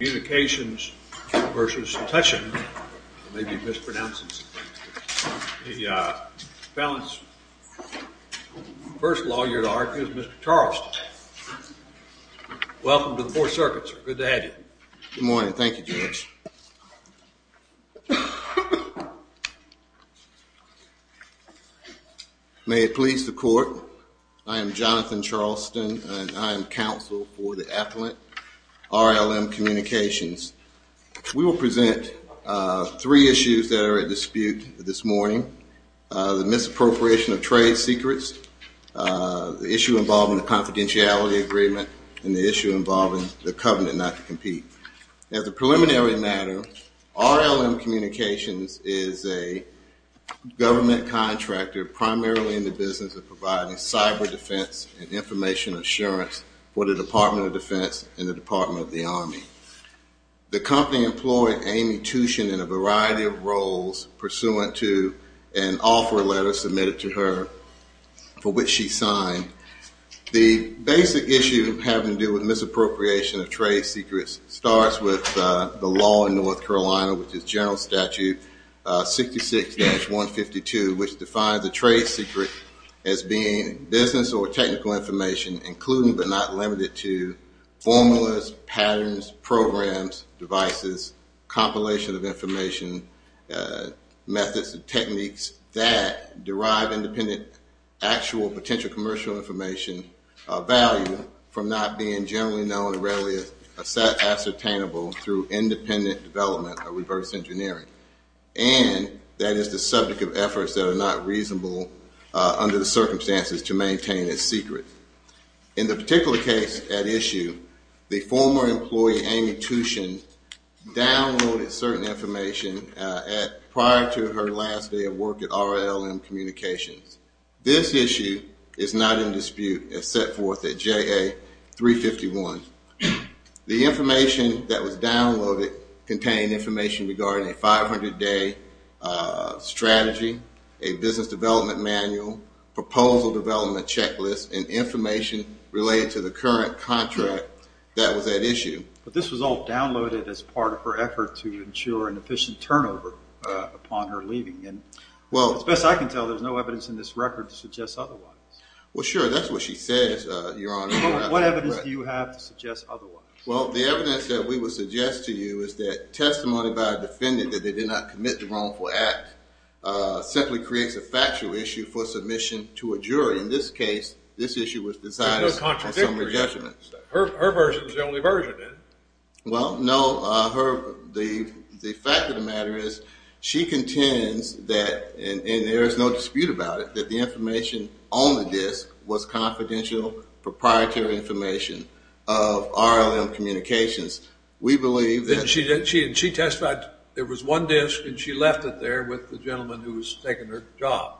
Communications v. Tuschen I may be mispronouncing something The first lawyer to argue is Mr. Charleston Welcome to the 4th Circuit, sir. Good to have you Good morning. Thank you, Judge May it please the Court I am Jonathan Charleston, and I am counsel for the affluent RLM Communications We will present three issues that are at dispute this morning The misappropriation of trade secrets The issue involving the confidentiality agreement And the issue involving the covenant not to compete As a preliminary matter, RLM Communications is a government contractor Primarily in the business of providing cyber defense And information assurance for the Department of Defense And the Department of the Army The company employed Amy Tuschen in a variety of roles Pursuant to an offer letter submitted to her For which she signed The basic issue having to do with misappropriation of trade secrets Starts with the law in North Carolina Which is General Statute 66-152 Which defines a trade secret as being Business or technical information Including but not limited to Formulas, patterns, programs, devices Compilation of information Methods and techniques that derive independent Actual potential commercial information Value from not being generally known And rarely ascertainable Through independent development or reverse engineering And that is the subject of efforts that are not reasonable Under the circumstances to maintain a secret In the particular case at issue The former employee Amy Tuschen Downloaded certain information Prior to her last day of work at RLM Communications This issue is not in dispute As set forth at JA 351 The information that was downloaded Contained information regarding a 500 day strategy A business development manual Proposal development checklist And information related to the current contract That was at issue But this was all downloaded as part of her effort To ensure an efficient turnover Upon her leaving As best I can tell there is no evidence in this record To suggest otherwise Well sure, that's what she said What evidence do you have to suggest otherwise? Well the evidence that we would suggest to you Is that testimony by a defendant That they did not commit the wrongful act Simply creates a factual issue For submission to a jury In this case, this issue was decided On summary judgment Her version is the only version Well no, her The fact of the matter is She contends that And there is no dispute about it That the information on the disc Was confidential proprietary information Of RLM Communications We believe that And she testified There was one disc And she left it there With the gentleman who was taking her job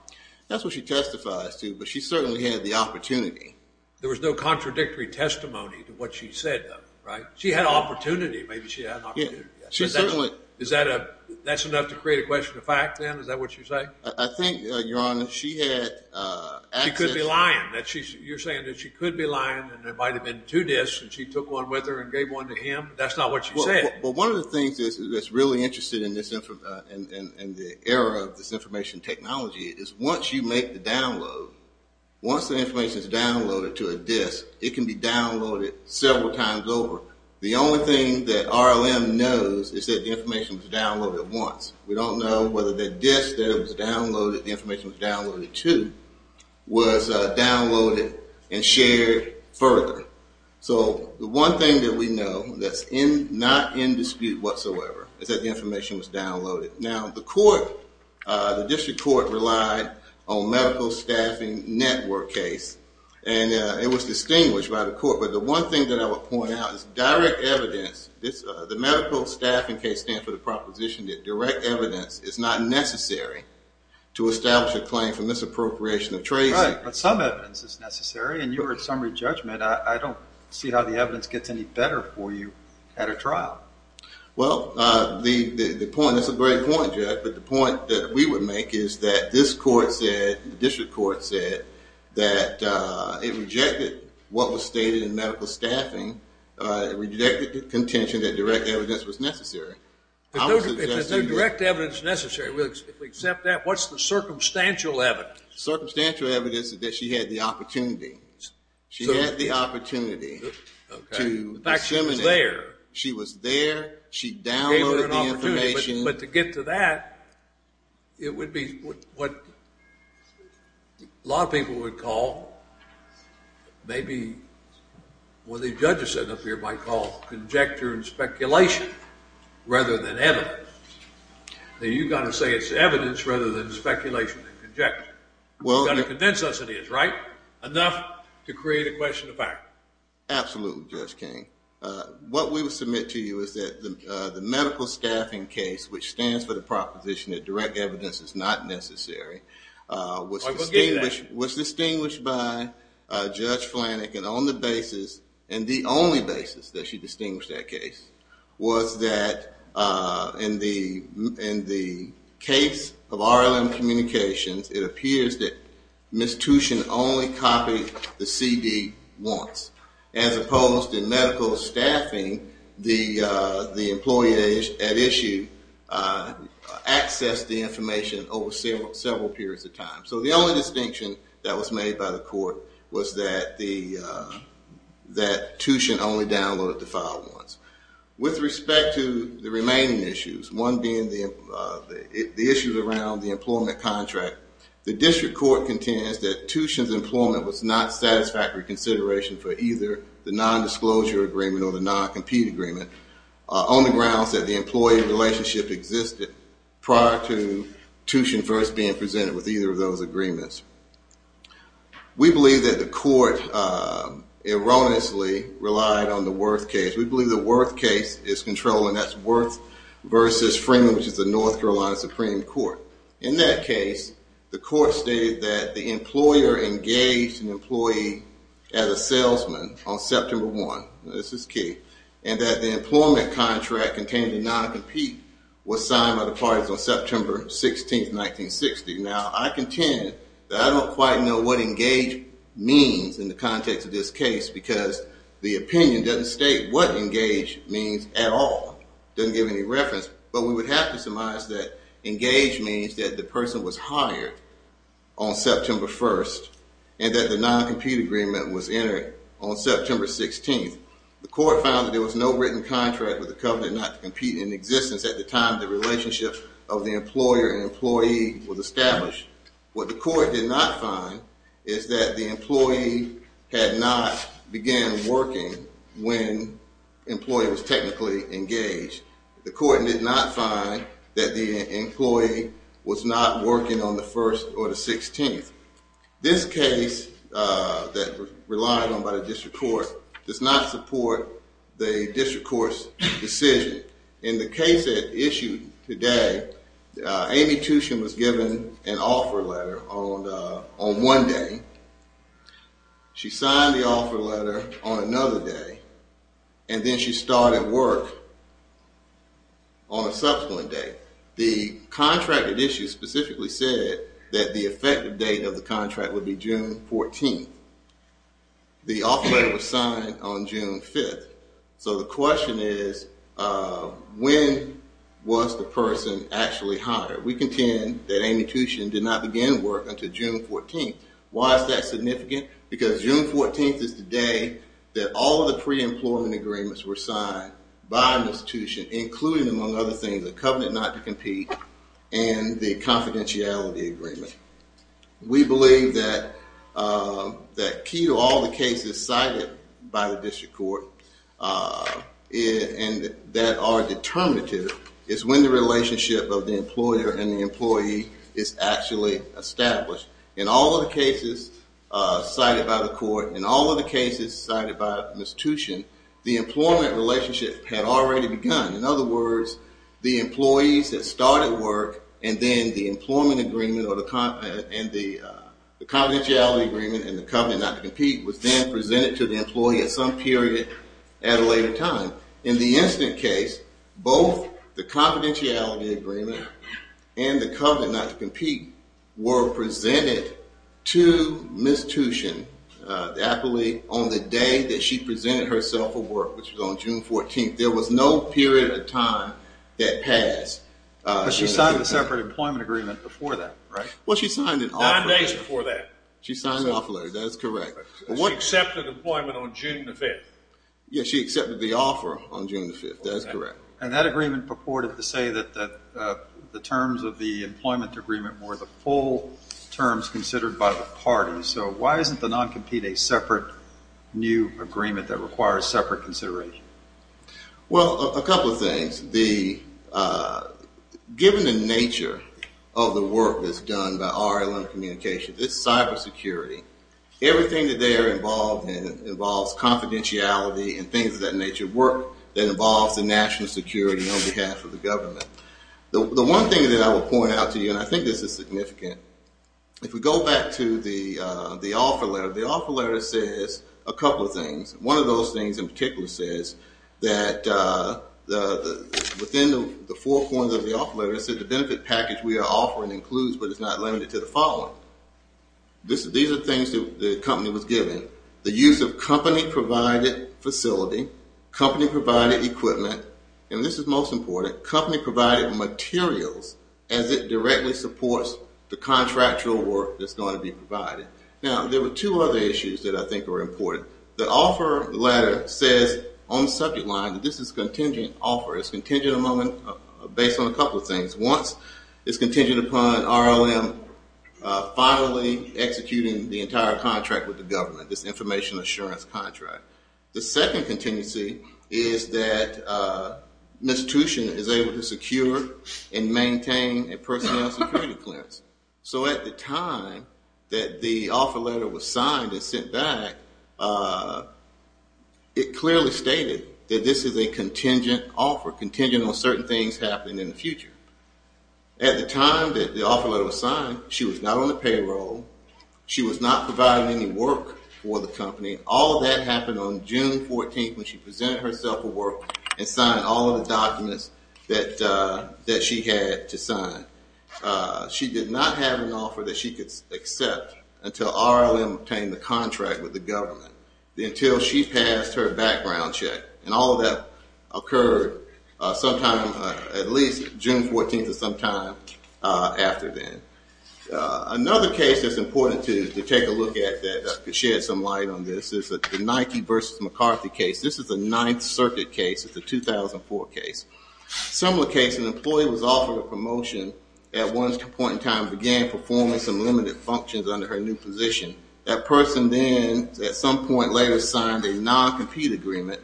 That's what she testifies to But she certainly had the opportunity There was no contradictory testimony To what she said though, right? She had an opportunity Maybe she had an opportunity She certainly Is that a That's enough to create a question of fact then? Is that what you're saying? I think your honor She had access She could be lying You're saying that she could be lying And there might have been two discs And she took one with her And gave one to him That's not what you're saying Well one of the things That's really interesting In this In the era of this information technology Is once you make the download Once the information is downloaded To a disc It can be downloaded Several times over The only thing that RLM knows Is that the information was downloaded once We don't know whether the disc That was downloaded The information was downloaded to Was downloaded And shared further So the one thing that we know That's not in dispute whatsoever Is that the information was downloaded Now the court The district court relied On medical staffing network case And it was distinguished by the court But the one thing that I would point out Is direct evidence The medical staffing case Stands for the proposition That direct evidence Is not necessary To establish a claim For misappropriation of tracing Right, but some evidence is necessary And you were at summary judgment I don't see how the evidence Gets any better for you At a trial Well the point That's a great point, Jack But the point that we would make Is that this court said The district court said That it rejected What was stated in medical staffing It rejected the contention That direct evidence was necessary If there's no direct evidence necessary We'll accept that What's the circumstantial evidence? Circumstantial evidence Is that she had the opportunity She had the opportunity To disseminate She was there She downloaded the information But to get to that It would be what A lot of people would call Maybe What the judges up here might call Conjecture and speculation Rather than evidence Now you've got to say it's evidence Rather than speculation and conjecture You've got to convince us it is, right? Enough to create a question of fact Absolutely, Judge King What we would submit to you Is that the medical staffing case Which stands for the proposition That direct evidence is not necessary Was distinguished Was distinguished by Judge Flanagan on the basis And the only basis that she distinguished That case was that In the Case of RLM Communications It appears that Ms. Tuchin only copied The CD once As opposed to medical staffing The employee At issue Accessed the information Over several periods of time So the only distinction that was made by the court Was that the That Tuchin only Downloaded the file once With respect to the remaining issues One being the Issues around the employment contract The district court contends that Tuchin's employment was not satisfactory Consideration for either the Non-disclosure agreement or the non-compete Agreement on the grounds that The employee relationship existed Prior to Tuchin First being presented with either of those agreements We believe That the court Erroneously relied on the Worth case. We believe the worth case Is control and that's worth Versus Freeman which is the North Carolina Supreme Court. In that case The court stated that the Employer engaged an employee As a salesman On September 1. This is key And that the employment contract Containing the non-compete was Signed by the parties on September 16 1960. Now I contend That I don't quite know what engage Means in the context of this Case because the opinion Doesn't state what engage means At all. Doesn't give any reference But we would have to surmise that Engage means that the person was hired On September 1 And that the non-compete Agreement was entered on September 16. The court found that there Was no written contract with the company not to Compete in existence at the time the relationship Of the employer and employee Was established. What the Court did not find is that The employee had not Began working when Employee was technically Engaged. The court did not Find that the employee Was not working on the 1st Or the 16th. This Case that Relying on by the district court Does not support the district Court's decision. In The case that issued today Amy Tushin was given An offer letter on One day She signed The offer letter on another day And then she started Work On a subsequent day. The Contract that issued specifically said That the effective date of the contract Would be June 14 The offer letter was Signed on June 5 So the question is When was the Person actually hired? We contend That Amy Tushin did not begin work Until June 14. Why is that Significant? Because June 14 Is the day that all of the pre- Employment agreements were signed By Ms. Tushin including among Other things the covenant not to compete And the confidentiality Agreement. We believe That Key to all the cases cited And that are Determinative is when the relationship Of the employer and the employee Is actually established In all of the cases Cited by the court and all of the cases Cited by Ms. Tushin The employment relationship had already Begun. In other words The employees that started work And then the employment agreement And the confidentiality Agreement and the covenant not to compete Was then presented to the employee at some Period at a later time In the incident case Both the confidentiality agreement And the covenant not to compete Were presented To Ms. Tushin The employee on the day That she presented herself for work Which was on June 14. There was no period Of time that passed But she signed a separate Employment agreement before that right? Well she signed an offer. Nine days before that. She signed an offer that is correct. She accepted employment on June the 5th. Yes she accepted the offer On June the 5th that is correct. And that agreement purported to say That the terms of the Employment agreement were the full Terms considered by the parties So why isn't the non-compete a separate New agreement that requires Separate consideration? Well a couple of things The Given the nature of the work That is done by RLM Communications It's cyber security Everything that they are involved in Involves confidentiality and things of that nature The work that involves the national security On behalf of the government The one thing that I will point out to you And I think this is significant If we go back to the Offer letter. The offer letter says A couple of things. One of those things In particular says that Within the Four points of the offer letter it says The benefit package we are offering includes But is not limited to the following These are things that the company Was given. The use of company Provided facility Company provided equipment And this is most important. Company provided Materials as it directly Supports the contractual Work that's going to be provided Now there were two other issues that I think were Important. The offer letter Says on the subject line that this is Contingent offer. It's contingent on Based on a couple of things. Once It's contingent upon RLM Finally Executing the entire contract with the The second contingency Is that Ms. Tuchin is able to secure And maintain a personnel Security clearance. So at the time That the offer letter Was signed and sent back It clearly Stated that this is a contingent Offer. Contingent on certain things Happening in the future. At the time that the offer letter was signed She was not on the payroll She was not providing any work For the company. All of that happened On June 14th when she presented herself For work and signed all of the documents That She had to sign. She did not have an offer that she Could accept until RLM Obtained the contract with the government Until she passed her background Check. And all of that Occurred sometime At least June 14th or sometime After then. Another case that's important To take a look at that To shed some light on this is the Nike versus McCarthy case. This is the Ninth circuit case. It's a 2004 case. Similar case. An employee Was offered a promotion At one point in time began performing Some limited functions under her new position. That person then At some point later signed a non-compete Agreement.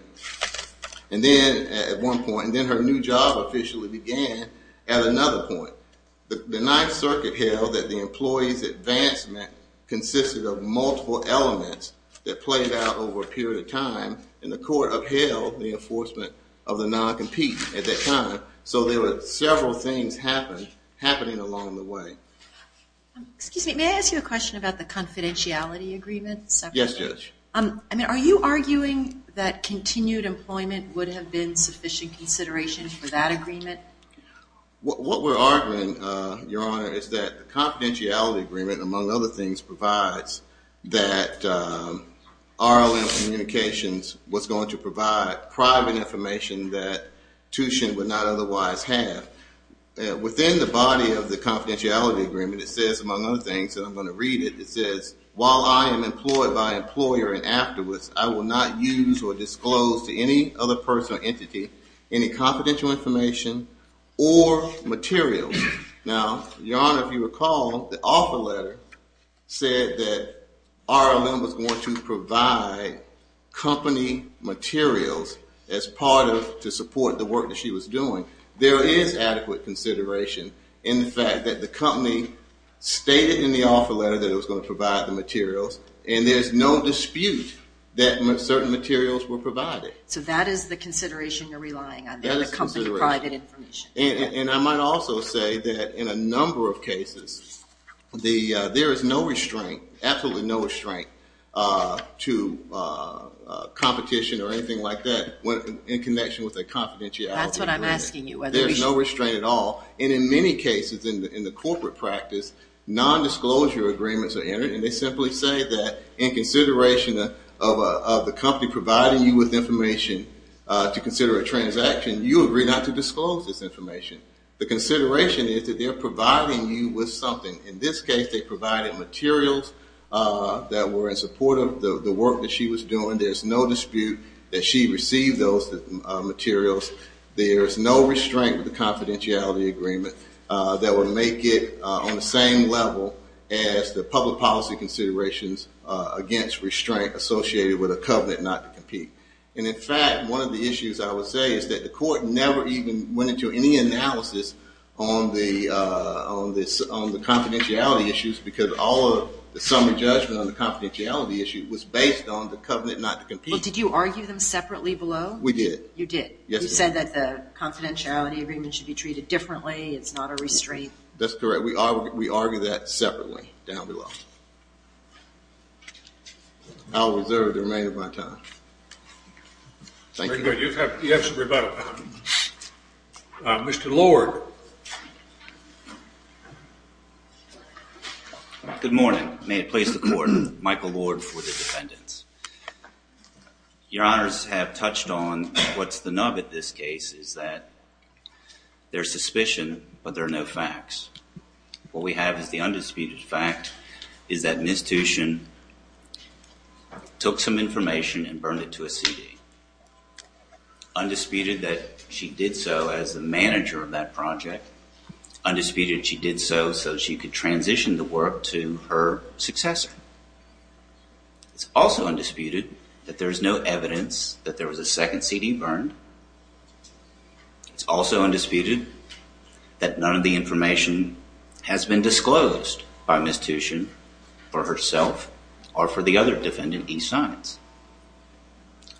And then At one point. And then her new job Officially began at another point. The ninth circuit Appealed that the employee's advancement Consisted of multiple Elements that played out over a period Of time. And the court upheld The enforcement of the non-compete At that time. So there were Several things happening Along the way. Excuse me. May I ask you a question about the confidentiality Agreement? Yes, Judge. Are you arguing That continued employment would have been Sufficient consideration for that Agreement? What we're arguing Your Honor, is that the confidentiality Agreement, among other things, provides That RLM Communications Was going to provide private information That Tushin would not Otherwise have. Within the body of the confidentiality Agreement, it says, among other things, and I'm going to Read it, it says, while I am Employed by an employer and afterwards I will not use or disclose To any other person or entity Any confidential information Or materials. Now, Your Honor, if you recall The offer letter said That RLM was going To provide company Materials As part of, to support the work that she Was doing. There is adequate Consideration in the fact that the Company stated in the Offer letter that it was going to provide the materials And there's no dispute That certain materials were provided. So that is the consideration you're relying On there, the company private information. And I might also say that In a number of cases There is no restraint Absolutely no restraint To Competition or anything like that In connection with a confidentiality agreement. There's no restraint at all And in many cases in the corporate Practice, non-disclosure Agreements are entered and they simply say that In consideration of The company providing you with information To consider a transaction You agree not to disclose this information. The consideration is that they're Providing you with something. In this Case they provided materials That were in support of the Work that she was doing. There's no dispute That she received those Materials. There's no Restraint with the confidentiality agreement That would make it On the same level as The public policy considerations Against restraint associated With a covenant not to compete. And in fact, one of the issues I would say Is that the court never even went into Any analysis on the Confidentiality Issues because all of The summary judgment on the confidentiality issue Was based on the covenant not to compete. Did you argue them separately below? We did. You did. You said that the Confidentiality agreement should be treated differently It's not a restraint. That's correct. We argue that separately Down below. I'll reserve The remainder of my time. Thank you. You have some rebuttal. Mr. Lord. Good morning. May it please the court. Michael Lord for The defendants. Your honors have touched on What's the nub at this case is that There's suspicion But there are no facts. What we have is the Undisputed fact is that Ms. Tuchin Took some information and burned it to a CD. Undisputed that she did so As the manager of that project. Undisputed she did so So she could transition the work to Her successor. It's also undisputed That there's no evidence that there was A second CD burned. It's also undisputed That none of the information Has been disclosed By Ms. Tuchin for herself Or for the other defendant He signs.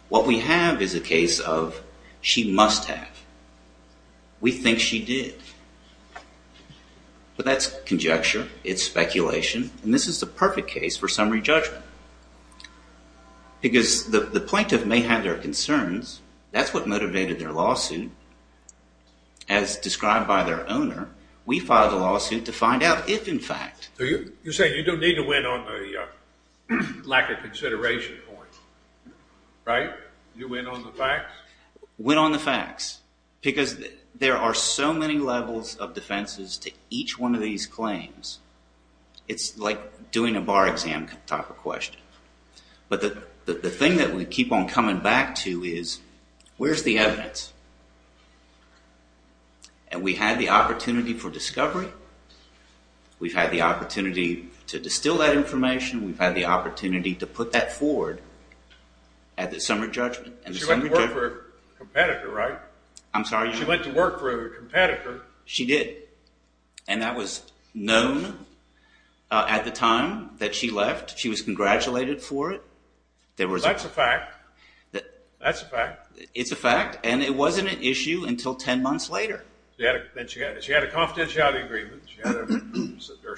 What we have is a case of She must have We think she did. But that's Conjecture. It's speculation. And this is the perfect case for summary judgment. Because The plaintiff may have their concerns That's what motivated their lawsuit And as Described by their owner We filed a lawsuit to find out if in fact You're saying you don't need to win on the Lack of consideration Point. Right? You win on the facts? Win on the facts. Because there are so many levels Of defenses to each one of these Claims. It's like Doing a bar exam type of question. But the thing That we keep on coming back to is Where's the evidence? And we Had the opportunity for discovery We've had the opportunity To distill that information We've had the opportunity to put that forward At the summary judgment. She went to work for a competitor, right? I'm sorry? She went to work for a competitor. She did. And that was known At the time That she left. She was congratulated For it. That's a fact. That's a fact. It's a fact and it wasn't an issue until 10 months later. She had a confidentiality Agreement. She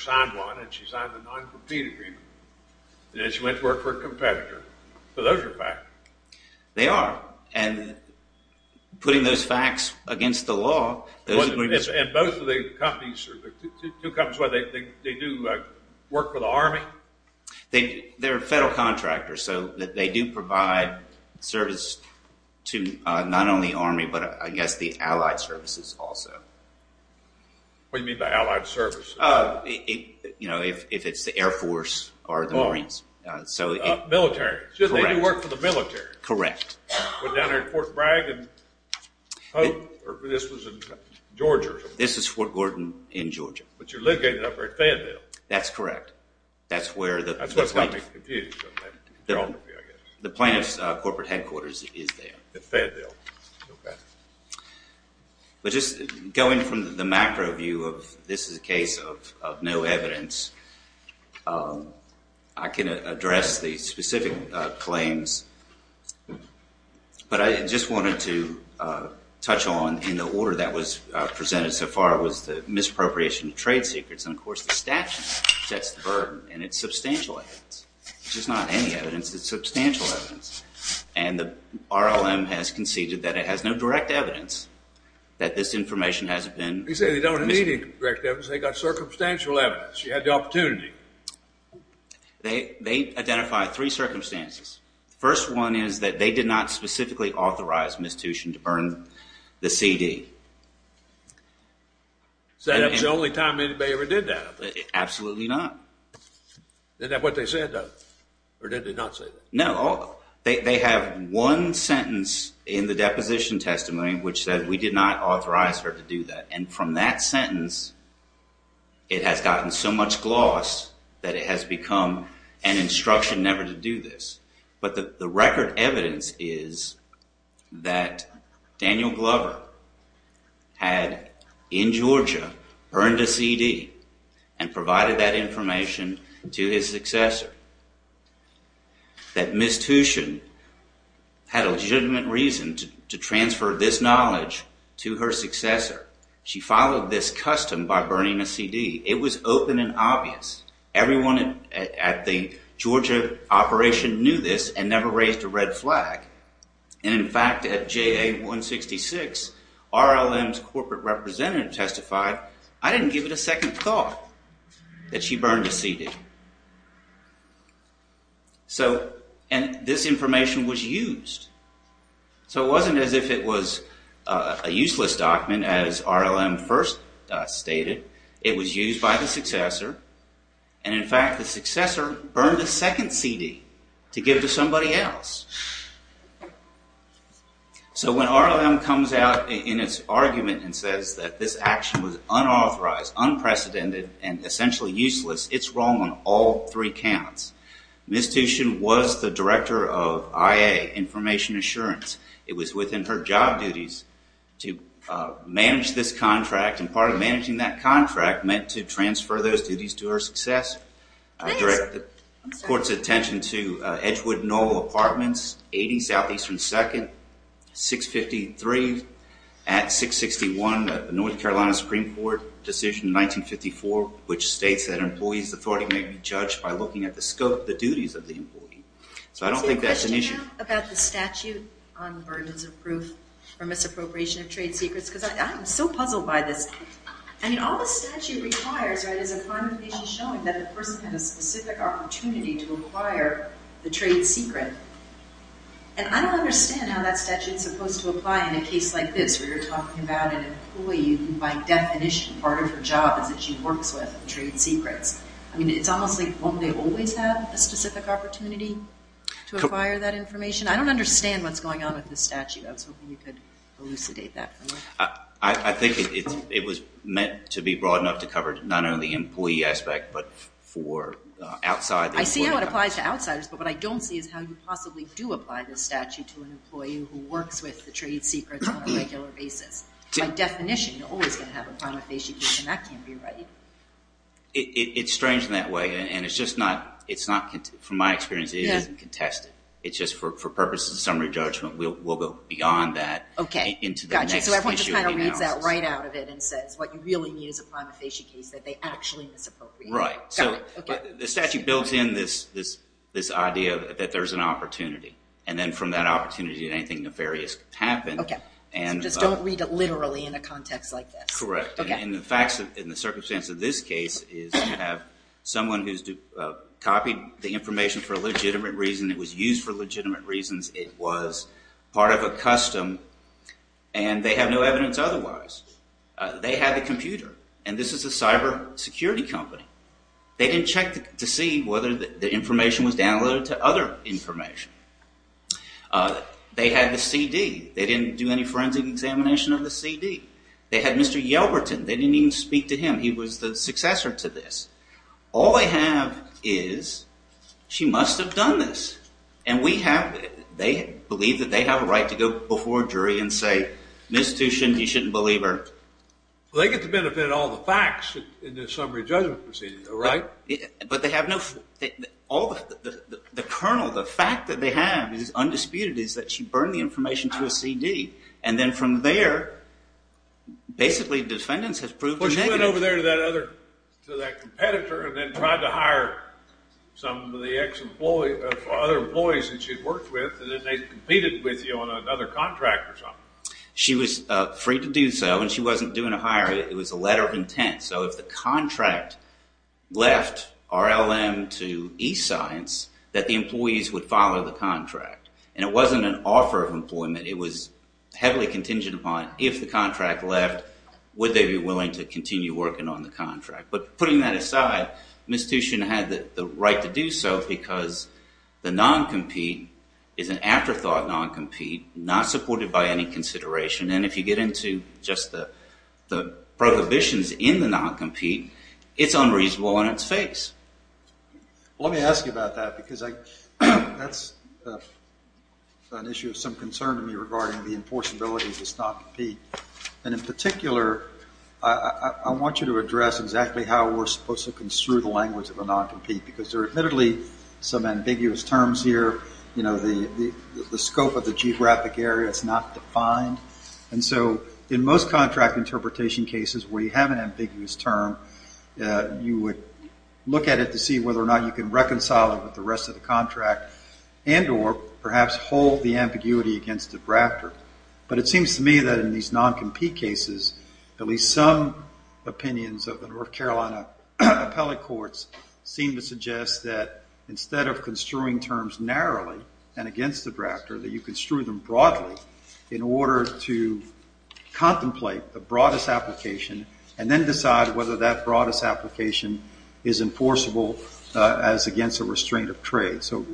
signed one and she signed a non-competing Agreement. She went to work for a competitor. Those are facts. They are. And putting those facts Against the law And both of the companies They do Work for the Army? They're federal Contractors so they do provide Service to Not only the Army but I guess The allied services also. What do you mean by allied services? You know If it's the Air Force or the Marines. Military. She did work for the military. Went down there to Fort Bragg And this was in Georgia. This is Fort Gordon In Georgia. But you're located up there At Fayetteville. That's correct. That's where the The plaintiff's Corporate headquarters is there. At Fayetteville. But just Going from the macro view of This is a case of no evidence I can Address the specific Claims But I just wanted to Touch on in the order That was presented so far Was the misappropriation of trade secrets And of course the statute sets the burden And it's substantial evidence Which is not any evidence, it's substantial evidence And the RLM Has conceded that it has no direct evidence That this information Has been They got circumstantial evidence You had the opportunity They identify three circumstances The first one is that They did not specifically authorize Misstution to burn the CD Is that The only time anybody ever did that? Absolutely not. Is that what they said though? Or did they not say that? No, they have one sentence In the deposition testimony Which said we did not authorize her to do that And from that sentence It has gotten so much gloss That it has become An instruction never to do this But the record evidence Is that Daniel Glover Had in Georgia Burned a CD And provided that information To his successor That Misstution Had a legitimate reason To transfer this knowledge To her successor She followed this custom by burning a CD It was open and obvious Everyone at the Georgia operation knew this And never raised a red flag And in fact At JA-166 RLM's corporate representative testified I didn't give it a second thought That she burned a CD So This information was used So it wasn't as if it was A useless document As RLM first stated It was used by the successor And in fact the successor Burned a second CD To give to somebody else So when RLM comes out In its argument and says That this action was unauthorized Unprecedented and essentially useless It's wrong on all three counts Misstution was The director of IA Information Assurance It was within her job duties To manage this contract And part of managing that contract Meant to transfer those duties to her successor I direct the court's attention To Edgewood-Knoll Apartments 80 Southeastern 2nd 653 At 661 North Carolina Supreme Court decision 1954 which states that Employees authority may be judged by looking at the scope Of the duties of the employee So I don't think that's an issue About the statute on burdens of proof Or misappropriation of trade secrets Because I'm so puzzled by this I mean all the statute requires Is a confirmation showing that a person Had a specific opportunity to acquire The trade secret And I don't understand how That statute's supposed to apply in a case like this Where you're talking about an employee Who by definition part of her job Is that she works with trade secrets I mean it's almost like won't they always Have a specific opportunity To acquire that information I don't understand what's going on with this statute I was hoping you could elucidate that for me I think it was Meant to be broad enough to cover Not only the employee aspect But for outside I see how it applies to outsiders but what I don't see Is how you possibly do apply this statute To an employee who works with the trade secrets On a regular basis By definition you're always going to have a prima facie And that can't be right It's strange in that way And it's just not From my experience it isn't contested It's just for purposes of summary judgment We'll go beyond that So everyone just kind of reads that Right out of it and says what you really need Is a prima facie case that they actually Misappropriate The statute builds in this Idea that there's an opportunity And then from that opportunity anything nefarious Could happen So just don't read it literally in a context like this Correct and the facts in the circumstance Of this case is to have Someone who's copied The information for a legitimate reason It was used for legitimate reasons It was part of a custom And they have no evidence Otherwise They had the computer and this is a cyber security company They didn't check To see whether the information Was downloaded to other information They had the CD They didn't do any forensic examination Of the CD They had Mr. Yelberton They didn't even speak to him he was the successor to this All they have is She must have done this And we have They believe that they have a right to go Before a jury and say You shouldn't believe her They get to benefit all the facts In the summary judgment proceeding But they have no The kernel The fact that they have is undisputed Is that she burned the information to a CD And then from there Basically defendants have proved To that competitor And then tried to hire Some of the other employees That she worked with And then they competed with you on another contract She was free to do so And she wasn't doing a hire It was a letter of intent So if the contract left RLM to E-science That the employees would follow the contract And it wasn't an offer of employment It was heavily contingent upon If the contract left Would they be willing to continue working on the contract But putting that aside The institution had the right to do so Because the non-compete Is an afterthought Non-compete Not supported by any consideration And if you get into just the Prohibitions in the non-compete It's unreasonable on its face Let me ask you about that Because that's An issue of some concern To me regarding the enforceability Of this non-compete And in particular I want you to address Exactly how we're supposed to Construe the language of a non-compete Because there are admittedly Some ambiguous terms here The scope of the geographic area Is not defined And so in most contract interpretation cases Where you have an ambiguous term You would look at it To see whether or not you can reconcile it With the rest of the contract And or perhaps hold the ambiguity Against the drafter But it seems to me that in these non-compete cases At least some Opinions of the North Carolina Appellate Courts Seem to suggest that Instead of construing terms narrowly And against the drafter That you construe them broadly In order to contemplate The broadest application And then decide whether that broadest application Is enforceable As against a restraint of trade So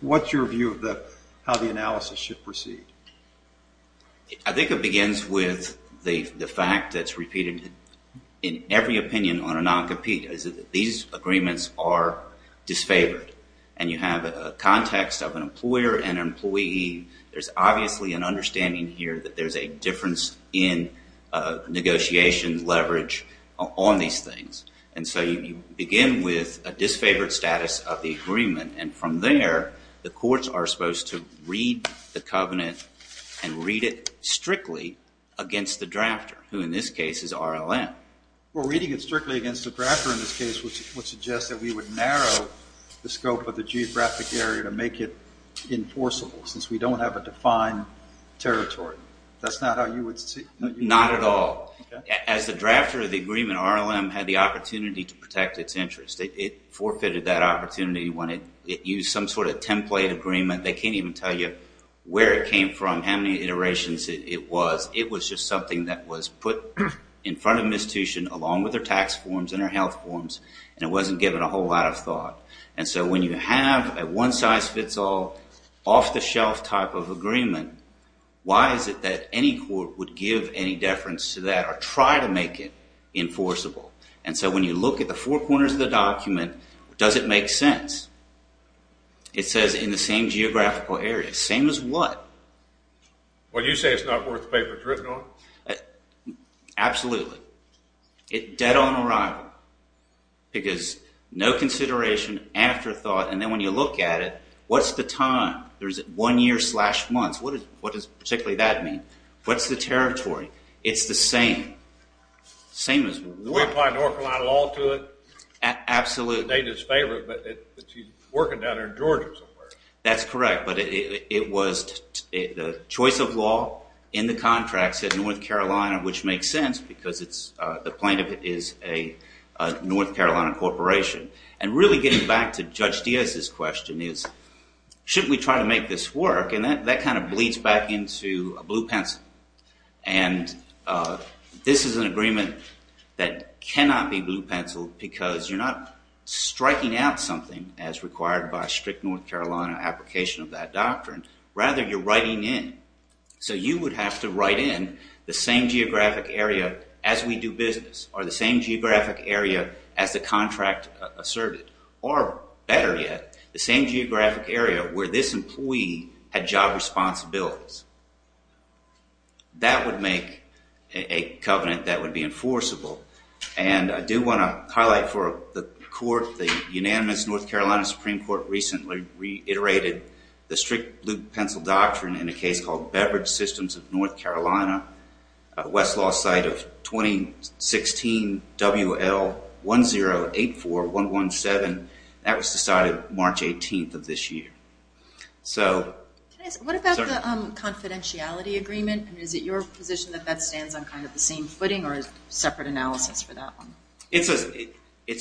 what's your view of How the analysis should proceed I think it begins With the fact that It's repeated in every Opinion on a non-compete These agreements are Disfavored and you have a context Of an employer and an employee There's obviously an understanding Here that there's a difference in Negotiation leverage On these things And so you begin with A disfavored status of the agreement And from there the courts Are supposed to read the covenant And read it strictly Against the drafter Who in this case is RLM Well reading it strictly against the drafter in this case Would suggest that we would narrow The scope of the geographic area To make it enforceable Since we don't have a defined territory That's not how you would see Not at all As the drafter of the agreement RLM Had the opportunity to protect its interest It forfeited that opportunity When it used some sort of template Agreement, they can't even tell you Where it came from, how many iterations It was, it was just something that was Put in front of an institution Along with their tax forms and their health forms And it wasn't given a whole lot of thought And so when you have A one-size-fits-all Off-the-shelf type of agreement Why is it that any court Would give any deference to that Or try to make it enforceable And so when you look at the four corners of the document Does it make sense It says in the same Geographical area, same as what Well you say it's not worth The paper it's written on Absolutely Dead on arrival Because no consideration Afterthought, and then when you look at it What's the time One year slash months, what does Particularly that mean, what's the territory It's the same Same as what North Carolina law to it Absolutely Working down there in Georgia That's correct, but it was The choice of law In the contract said North Carolina Which makes sense because it's The plaintiff is a North Carolina corporation And really getting back to Judge Diaz's question Is, shouldn't we try to make this Work, and that kind of bleeds back Into a blue pencil And This is an agreement That cannot be blue penciled because You're not striking out something As required by strict North Carolina Application of that doctrine Rather you're writing in So you would have to write in The same geographic area as we do business Or the same geographic area As the contract asserted Or better yet The same geographic area where this Employee had job responsibilities That would make A covenant that would be Enforceable, and I do want to Highlight for the court The unanimous North Carolina Supreme Court Recently reiterated The strict blue pencil doctrine In a case called Beverage Systems of North Carolina A Westlaw site of 2016 WL1084117 That was decided March 18th of this year So What about the Confidentiality agreement, is it your Position that that stands on kind of the same footing Or separate analysis for that one It's a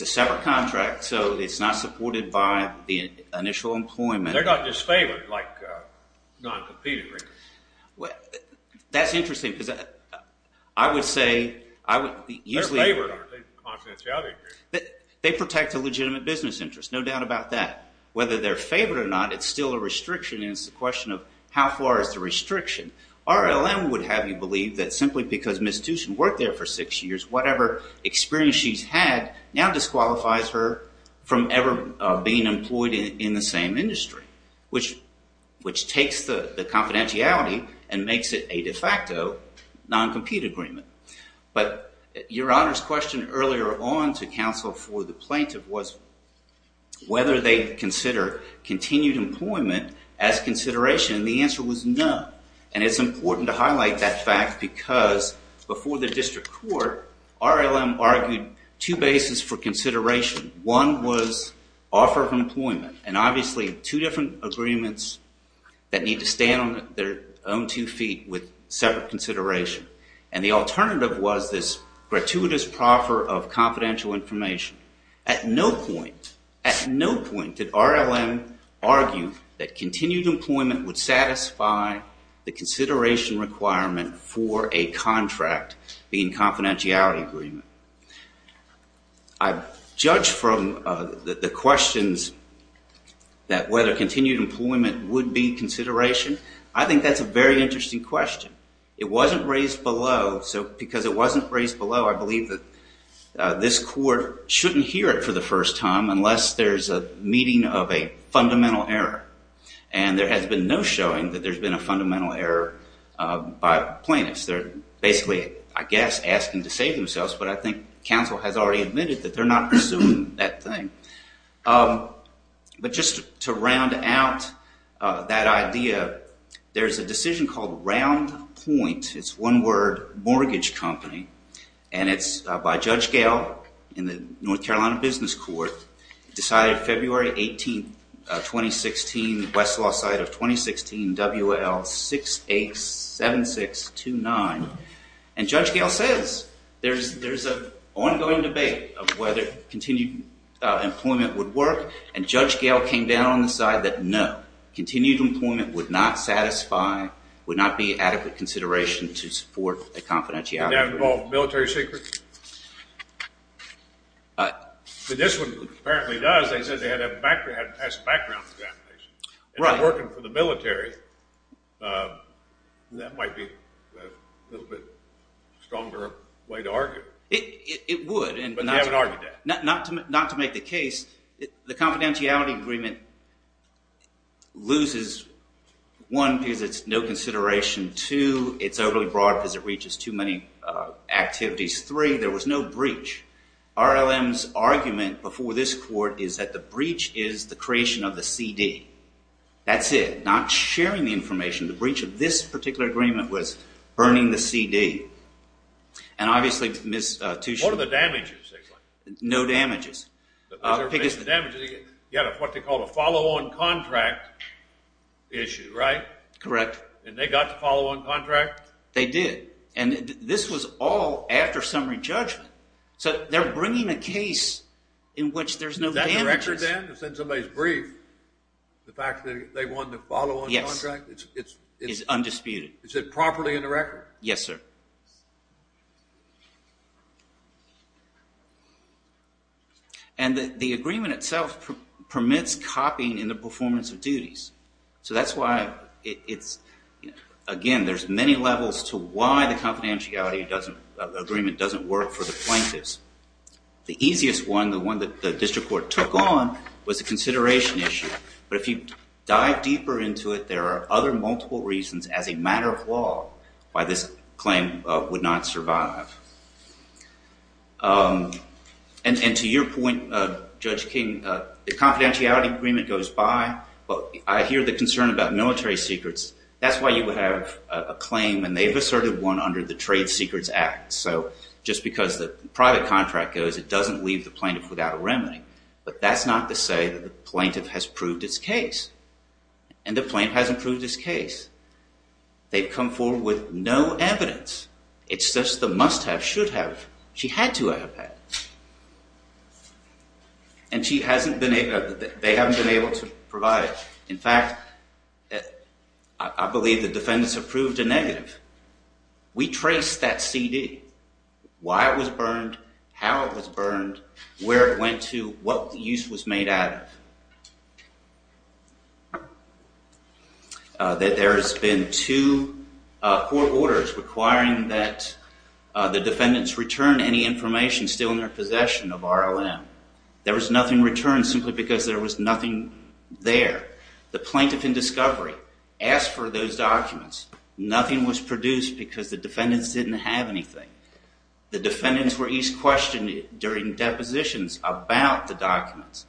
separate contract So it's not supported by The initial employment They're not disfavored like Non-competing That's interesting because I would say They're favored under the confidentiality agreement They protect a legitimate business Interest, no doubt about that Whether they're favored or not It's still a restriction and it's a question of How far is the restriction RLM would have you believe that simply because Ms. Tuchin worked there for six years Whatever experience she's had Now disqualifies her From ever being employed in The same industry Which takes the confidentiality And makes it a de facto Non-compete agreement But your honor's question Earlier on to counsel for the plaintiff Was whether they Consider continued employment As consideration and the answer was No, and it's important to highlight That fact because Before the district court RLM argued two bases for consideration One was Offer of employment and obviously Two different agreements That need to stand on their own Two feet with separate consideration And the alternative was this Gratuitous proffer of confidential Information. At no point At no point did RLM Argue that continued Employment would satisfy The consideration requirement For a contract Being confidentiality agreement I've judged From the questions That whether Continued employment would be consideration I think that's a very interesting question It wasn't raised below So because it wasn't raised below I believe that this Court shouldn't hear it for the first time Unless there's a meeting of a Fundamental error And there has been no showing that there's been a Fundamental error by Plaintiffs. They're basically Asking to save themselves but I think Counsel has already admitted that they're not Pursuing that thing But just to round Out that idea There's a decision called Round point. It's one word Mortgage company And it's by Judge Gale In the North Carolina Business Court Decided February 18 2016 Westlaw side of 2016 WL 687629 And Judge Gale Says there's An ongoing debate of whether Continued employment would work And Judge Gale came down on the side That no. Continued employment Would not satisfy Would not be adequate consideration To support a confidentiality agreement Military secret? This one Apparently does They said they had a background Working for the military That might be A little bit Stronger way to argue It would Not to make the case The confidentiality agreement Loses One Because it's no consideration Two, it's overly broad because it reaches Too many activities Three, there was no breach RLM's argument before this court Is that the breach is the creation Of the CD That's it. Not sharing the information The breach of this particular agreement Was burning the CD And obviously What are the damages? No damages Because You had what they call a follow on contract Issue, right? Correct. And they got the follow on contract? They did And this was all after summary judgment So they're bringing a case In which there's no Is that the record then? The fact that they won the follow on contract? Yes. It's undisputed Is it properly in the record? Yes, sir And the agreement itself Permits copying In the performance of duties So that's why Again, there's many levels To why the confidentiality Agreement doesn't work for the plaintiffs The easiest one The one that the district court took on Was the consideration issue But if you dive deeper into it There are other multiple reasons As a matter of law By this claim The claim would not survive And to your point Judge King The confidentiality agreement goes by But I hear the concern about military secrets That's why you would have a claim And they've asserted one under the trade secrets act So just because The private contract goes It doesn't leave the plaintiff without a remedy But that's not to say that the plaintiff Has proved its case And the plaintiff hasn't proved its case They've come forward with No evidence It's just the must have, should have She had to have had And she hasn't been able They haven't been able to provide In fact I believe the defendants Have proved a negative We traced that CD Why it was burned How it was burned Where it went to What use was made out of That there has been Two court orders Requiring that The defendants return any information Still in their possession of RLM There was nothing returned simply because There was nothing there The plaintiff in discovery Asked for those documents Nothing was produced because the defendants Didn't have anything The defendants were each questioned During depositions about the documents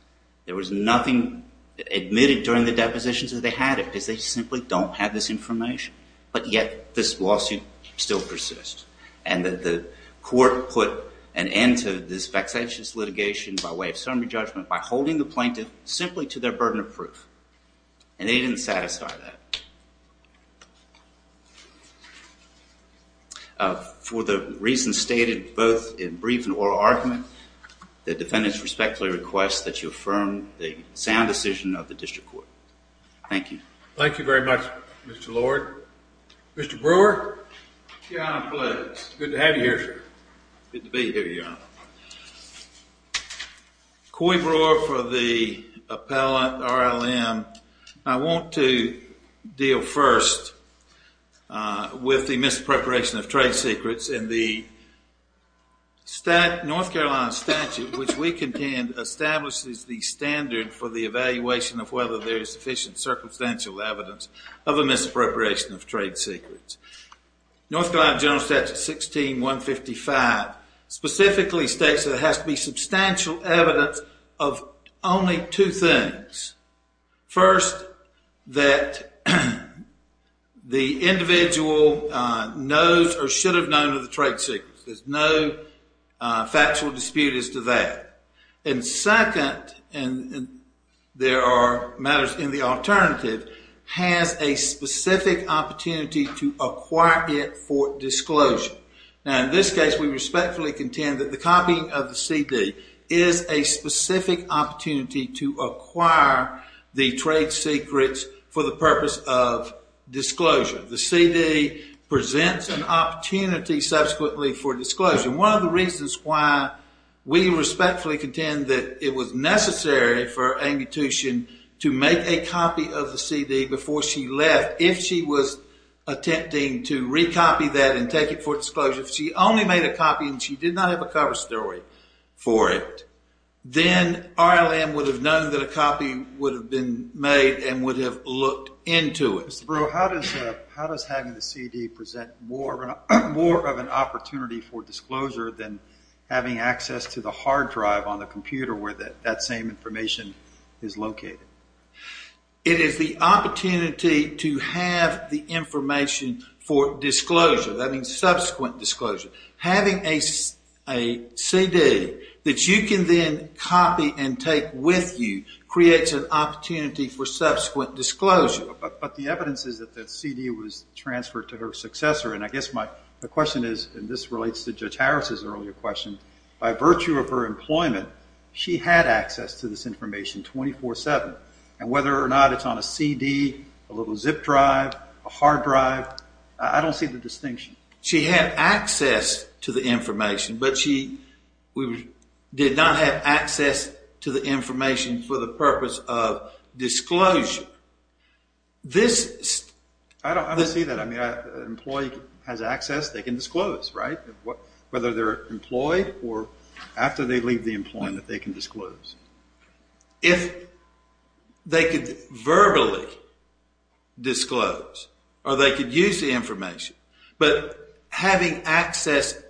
There was nothing Admitted during the depositions That they had it because they simply don't have this Information but yet this Lawsuit still persists And that the court put An end to this vexatious litigation By way of summary judgment by holding The plaintiff simply to their burden of proof And they didn't satisfy that For the reasons stated Both in brief and oral argument The defendants respectfully request That you affirm the sound decision Of the district court Thank you Thank you very much Mr. Lord Mr. Brewer Good to have you here Good to be here Coy Brewer for the Appellate RLM I want to Deal first With the mispreparation of trade secrets In the North Carolina statute Which we contend establishes The standard for the evaluation Of whether there is sufficient circumstantial Evidence of a mispreparation of Trade secrets North Carolina general statute 16155 Specifically states There has to be substantial evidence Of only two things First That The individual Knows or should have known Of the trade secrets There's no Factual dispute as to that And second There are matters In the alternative Has a specific opportunity To acquire it for disclosure Now in this case we respectfully Contend that the copying of the CD Is a specific Opportunity to acquire The trade secrets For the purpose of disclosure The CD presents An opportunity subsequently For disclosure. One of the reasons why We respectfully contend That it was necessary for Amy Tuchin to make a copy Of the CD before she left If she was attempting To recopy that and take it for Disclosure. If she only made a copy and she Did not have a cover story for it Then RLM Would have known that a copy would have Been made and would have looked Into it. Mr. Brewer how does Having the CD present More of an opportunity For disclosure than Having access to the hard drive on the Computer where that same information Is located? It is the opportunity To have the information For disclosure. That means Subsequent disclosure. Having a CD That you can then copy and Take with you creates an Opportunity for subsequent disclosure But the evidence is that the CD Was transferred to her successor and I guess My question is and this relates To Judge Harris' earlier question By virtue of her employment She had access to this information 24-7 and whether or not It's on a CD, a little zip drive A hard drive I don't see the distinction. She had Access to the information But she Did not have access to the Information for the purpose of This I don't see that. I mean an employee Has access, they can disclose, right? Whether they're employed or After they leave the employment They can disclose. If they could Verbally Disclose or they could use The information but Having access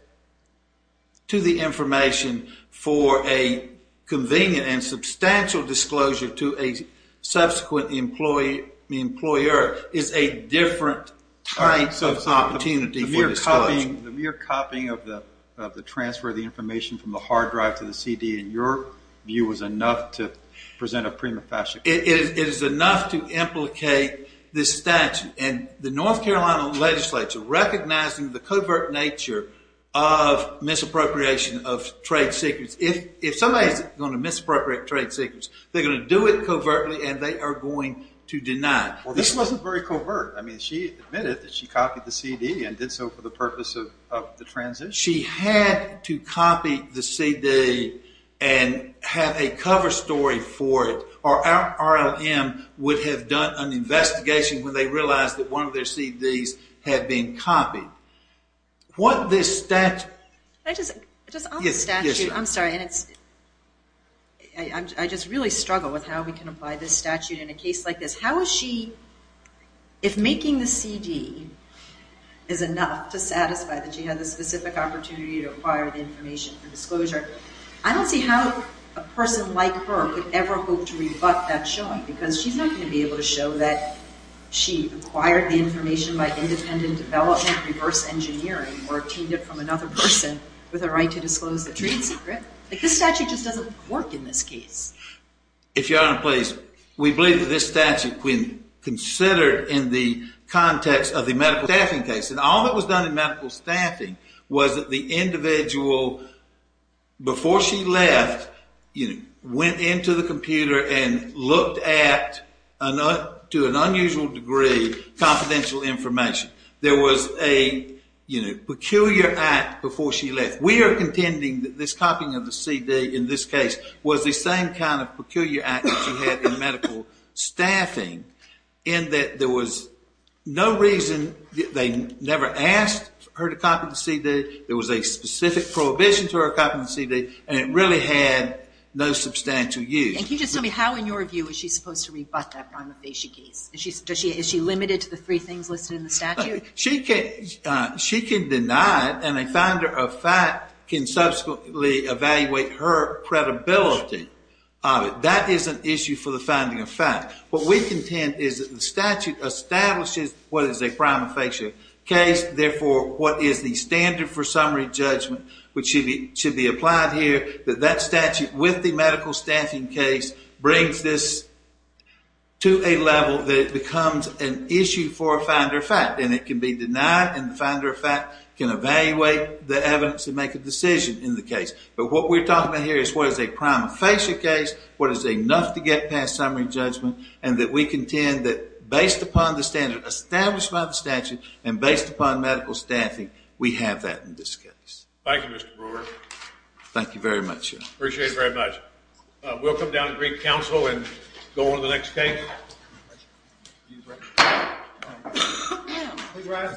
To the information For a convenient And substantial disclosure to a Subsequent Employer is a different Type of opportunity for Disclosure. The mere copying Of the transfer of the information from the Hard drive to the CD in your View was enough to present a Prima facie. It is enough To implicate this statute And the North Carolina legislature Recognizing the covert nature Of misappropriation Of trade secrets If somebody's going to misappropriate trade secrets They're going to do it covertly and they Are going to deny it. Well this wasn't very covert. I mean she Admitted that she copied the CD and did so for the Purpose of the transition. She had to copy the CD And have a Cover story for it Or our RLM would have done An investigation when they realized That one of their CDs had been Copied. What this Statute I'm sorry I just Really struggle with how we can apply This statute in a case like this. How is she If making the CD is enough To satisfy that she had the specific Opportunity to acquire the information For disclosure. I don't see how A person like her would ever hope To rebut that showing because she's not Going to be able to show that she Acquired the information by independent Development reverse engineering Or obtained it from another person With a right to disclose the trade secret This statute just doesn't work in this case If your honor please We believe that this statute When considered in the Context of the medical staffing case And all that was done in medical staffing Was that the individual Before she left Went into the computer And looked at To an unusual degree Confidential information There was a Peculiar act before she left We are contending that this copying of the CD in this case was the same Kind of peculiar act that she had in medical Staffing In that there was No reason, they never Asked her to copy the CD There was a specific prohibition to her Copying the CD and it really had No substantial use How in your view is she supposed to rebut That prima facie case? Is she limited to the three things listed in the statute? She can Deny it and a finder of fact Can subsequently evaluate Her credibility That is an issue for the Finding of fact, what we contend Is that the statute establishes What is a prima facie case Therefore what is the standard for Summary judgment which should be Applied here that that statute With the medical staffing case Brings this To a level that it becomes An issue for a finder of fact And it can be denied and the finder of fact Can evaluate the evidence And make a decision in the case But what we're talking about here is what is a prima facie Case, what is enough to get past Summary judgment and that we contend That based upon the standard Established by the statute and based upon Medical staffing we have that In this case. Thank you Mr. Brewer Thank you very much Appreciate it very much. We'll come down To the Greek council and go on to the next case Thank you very much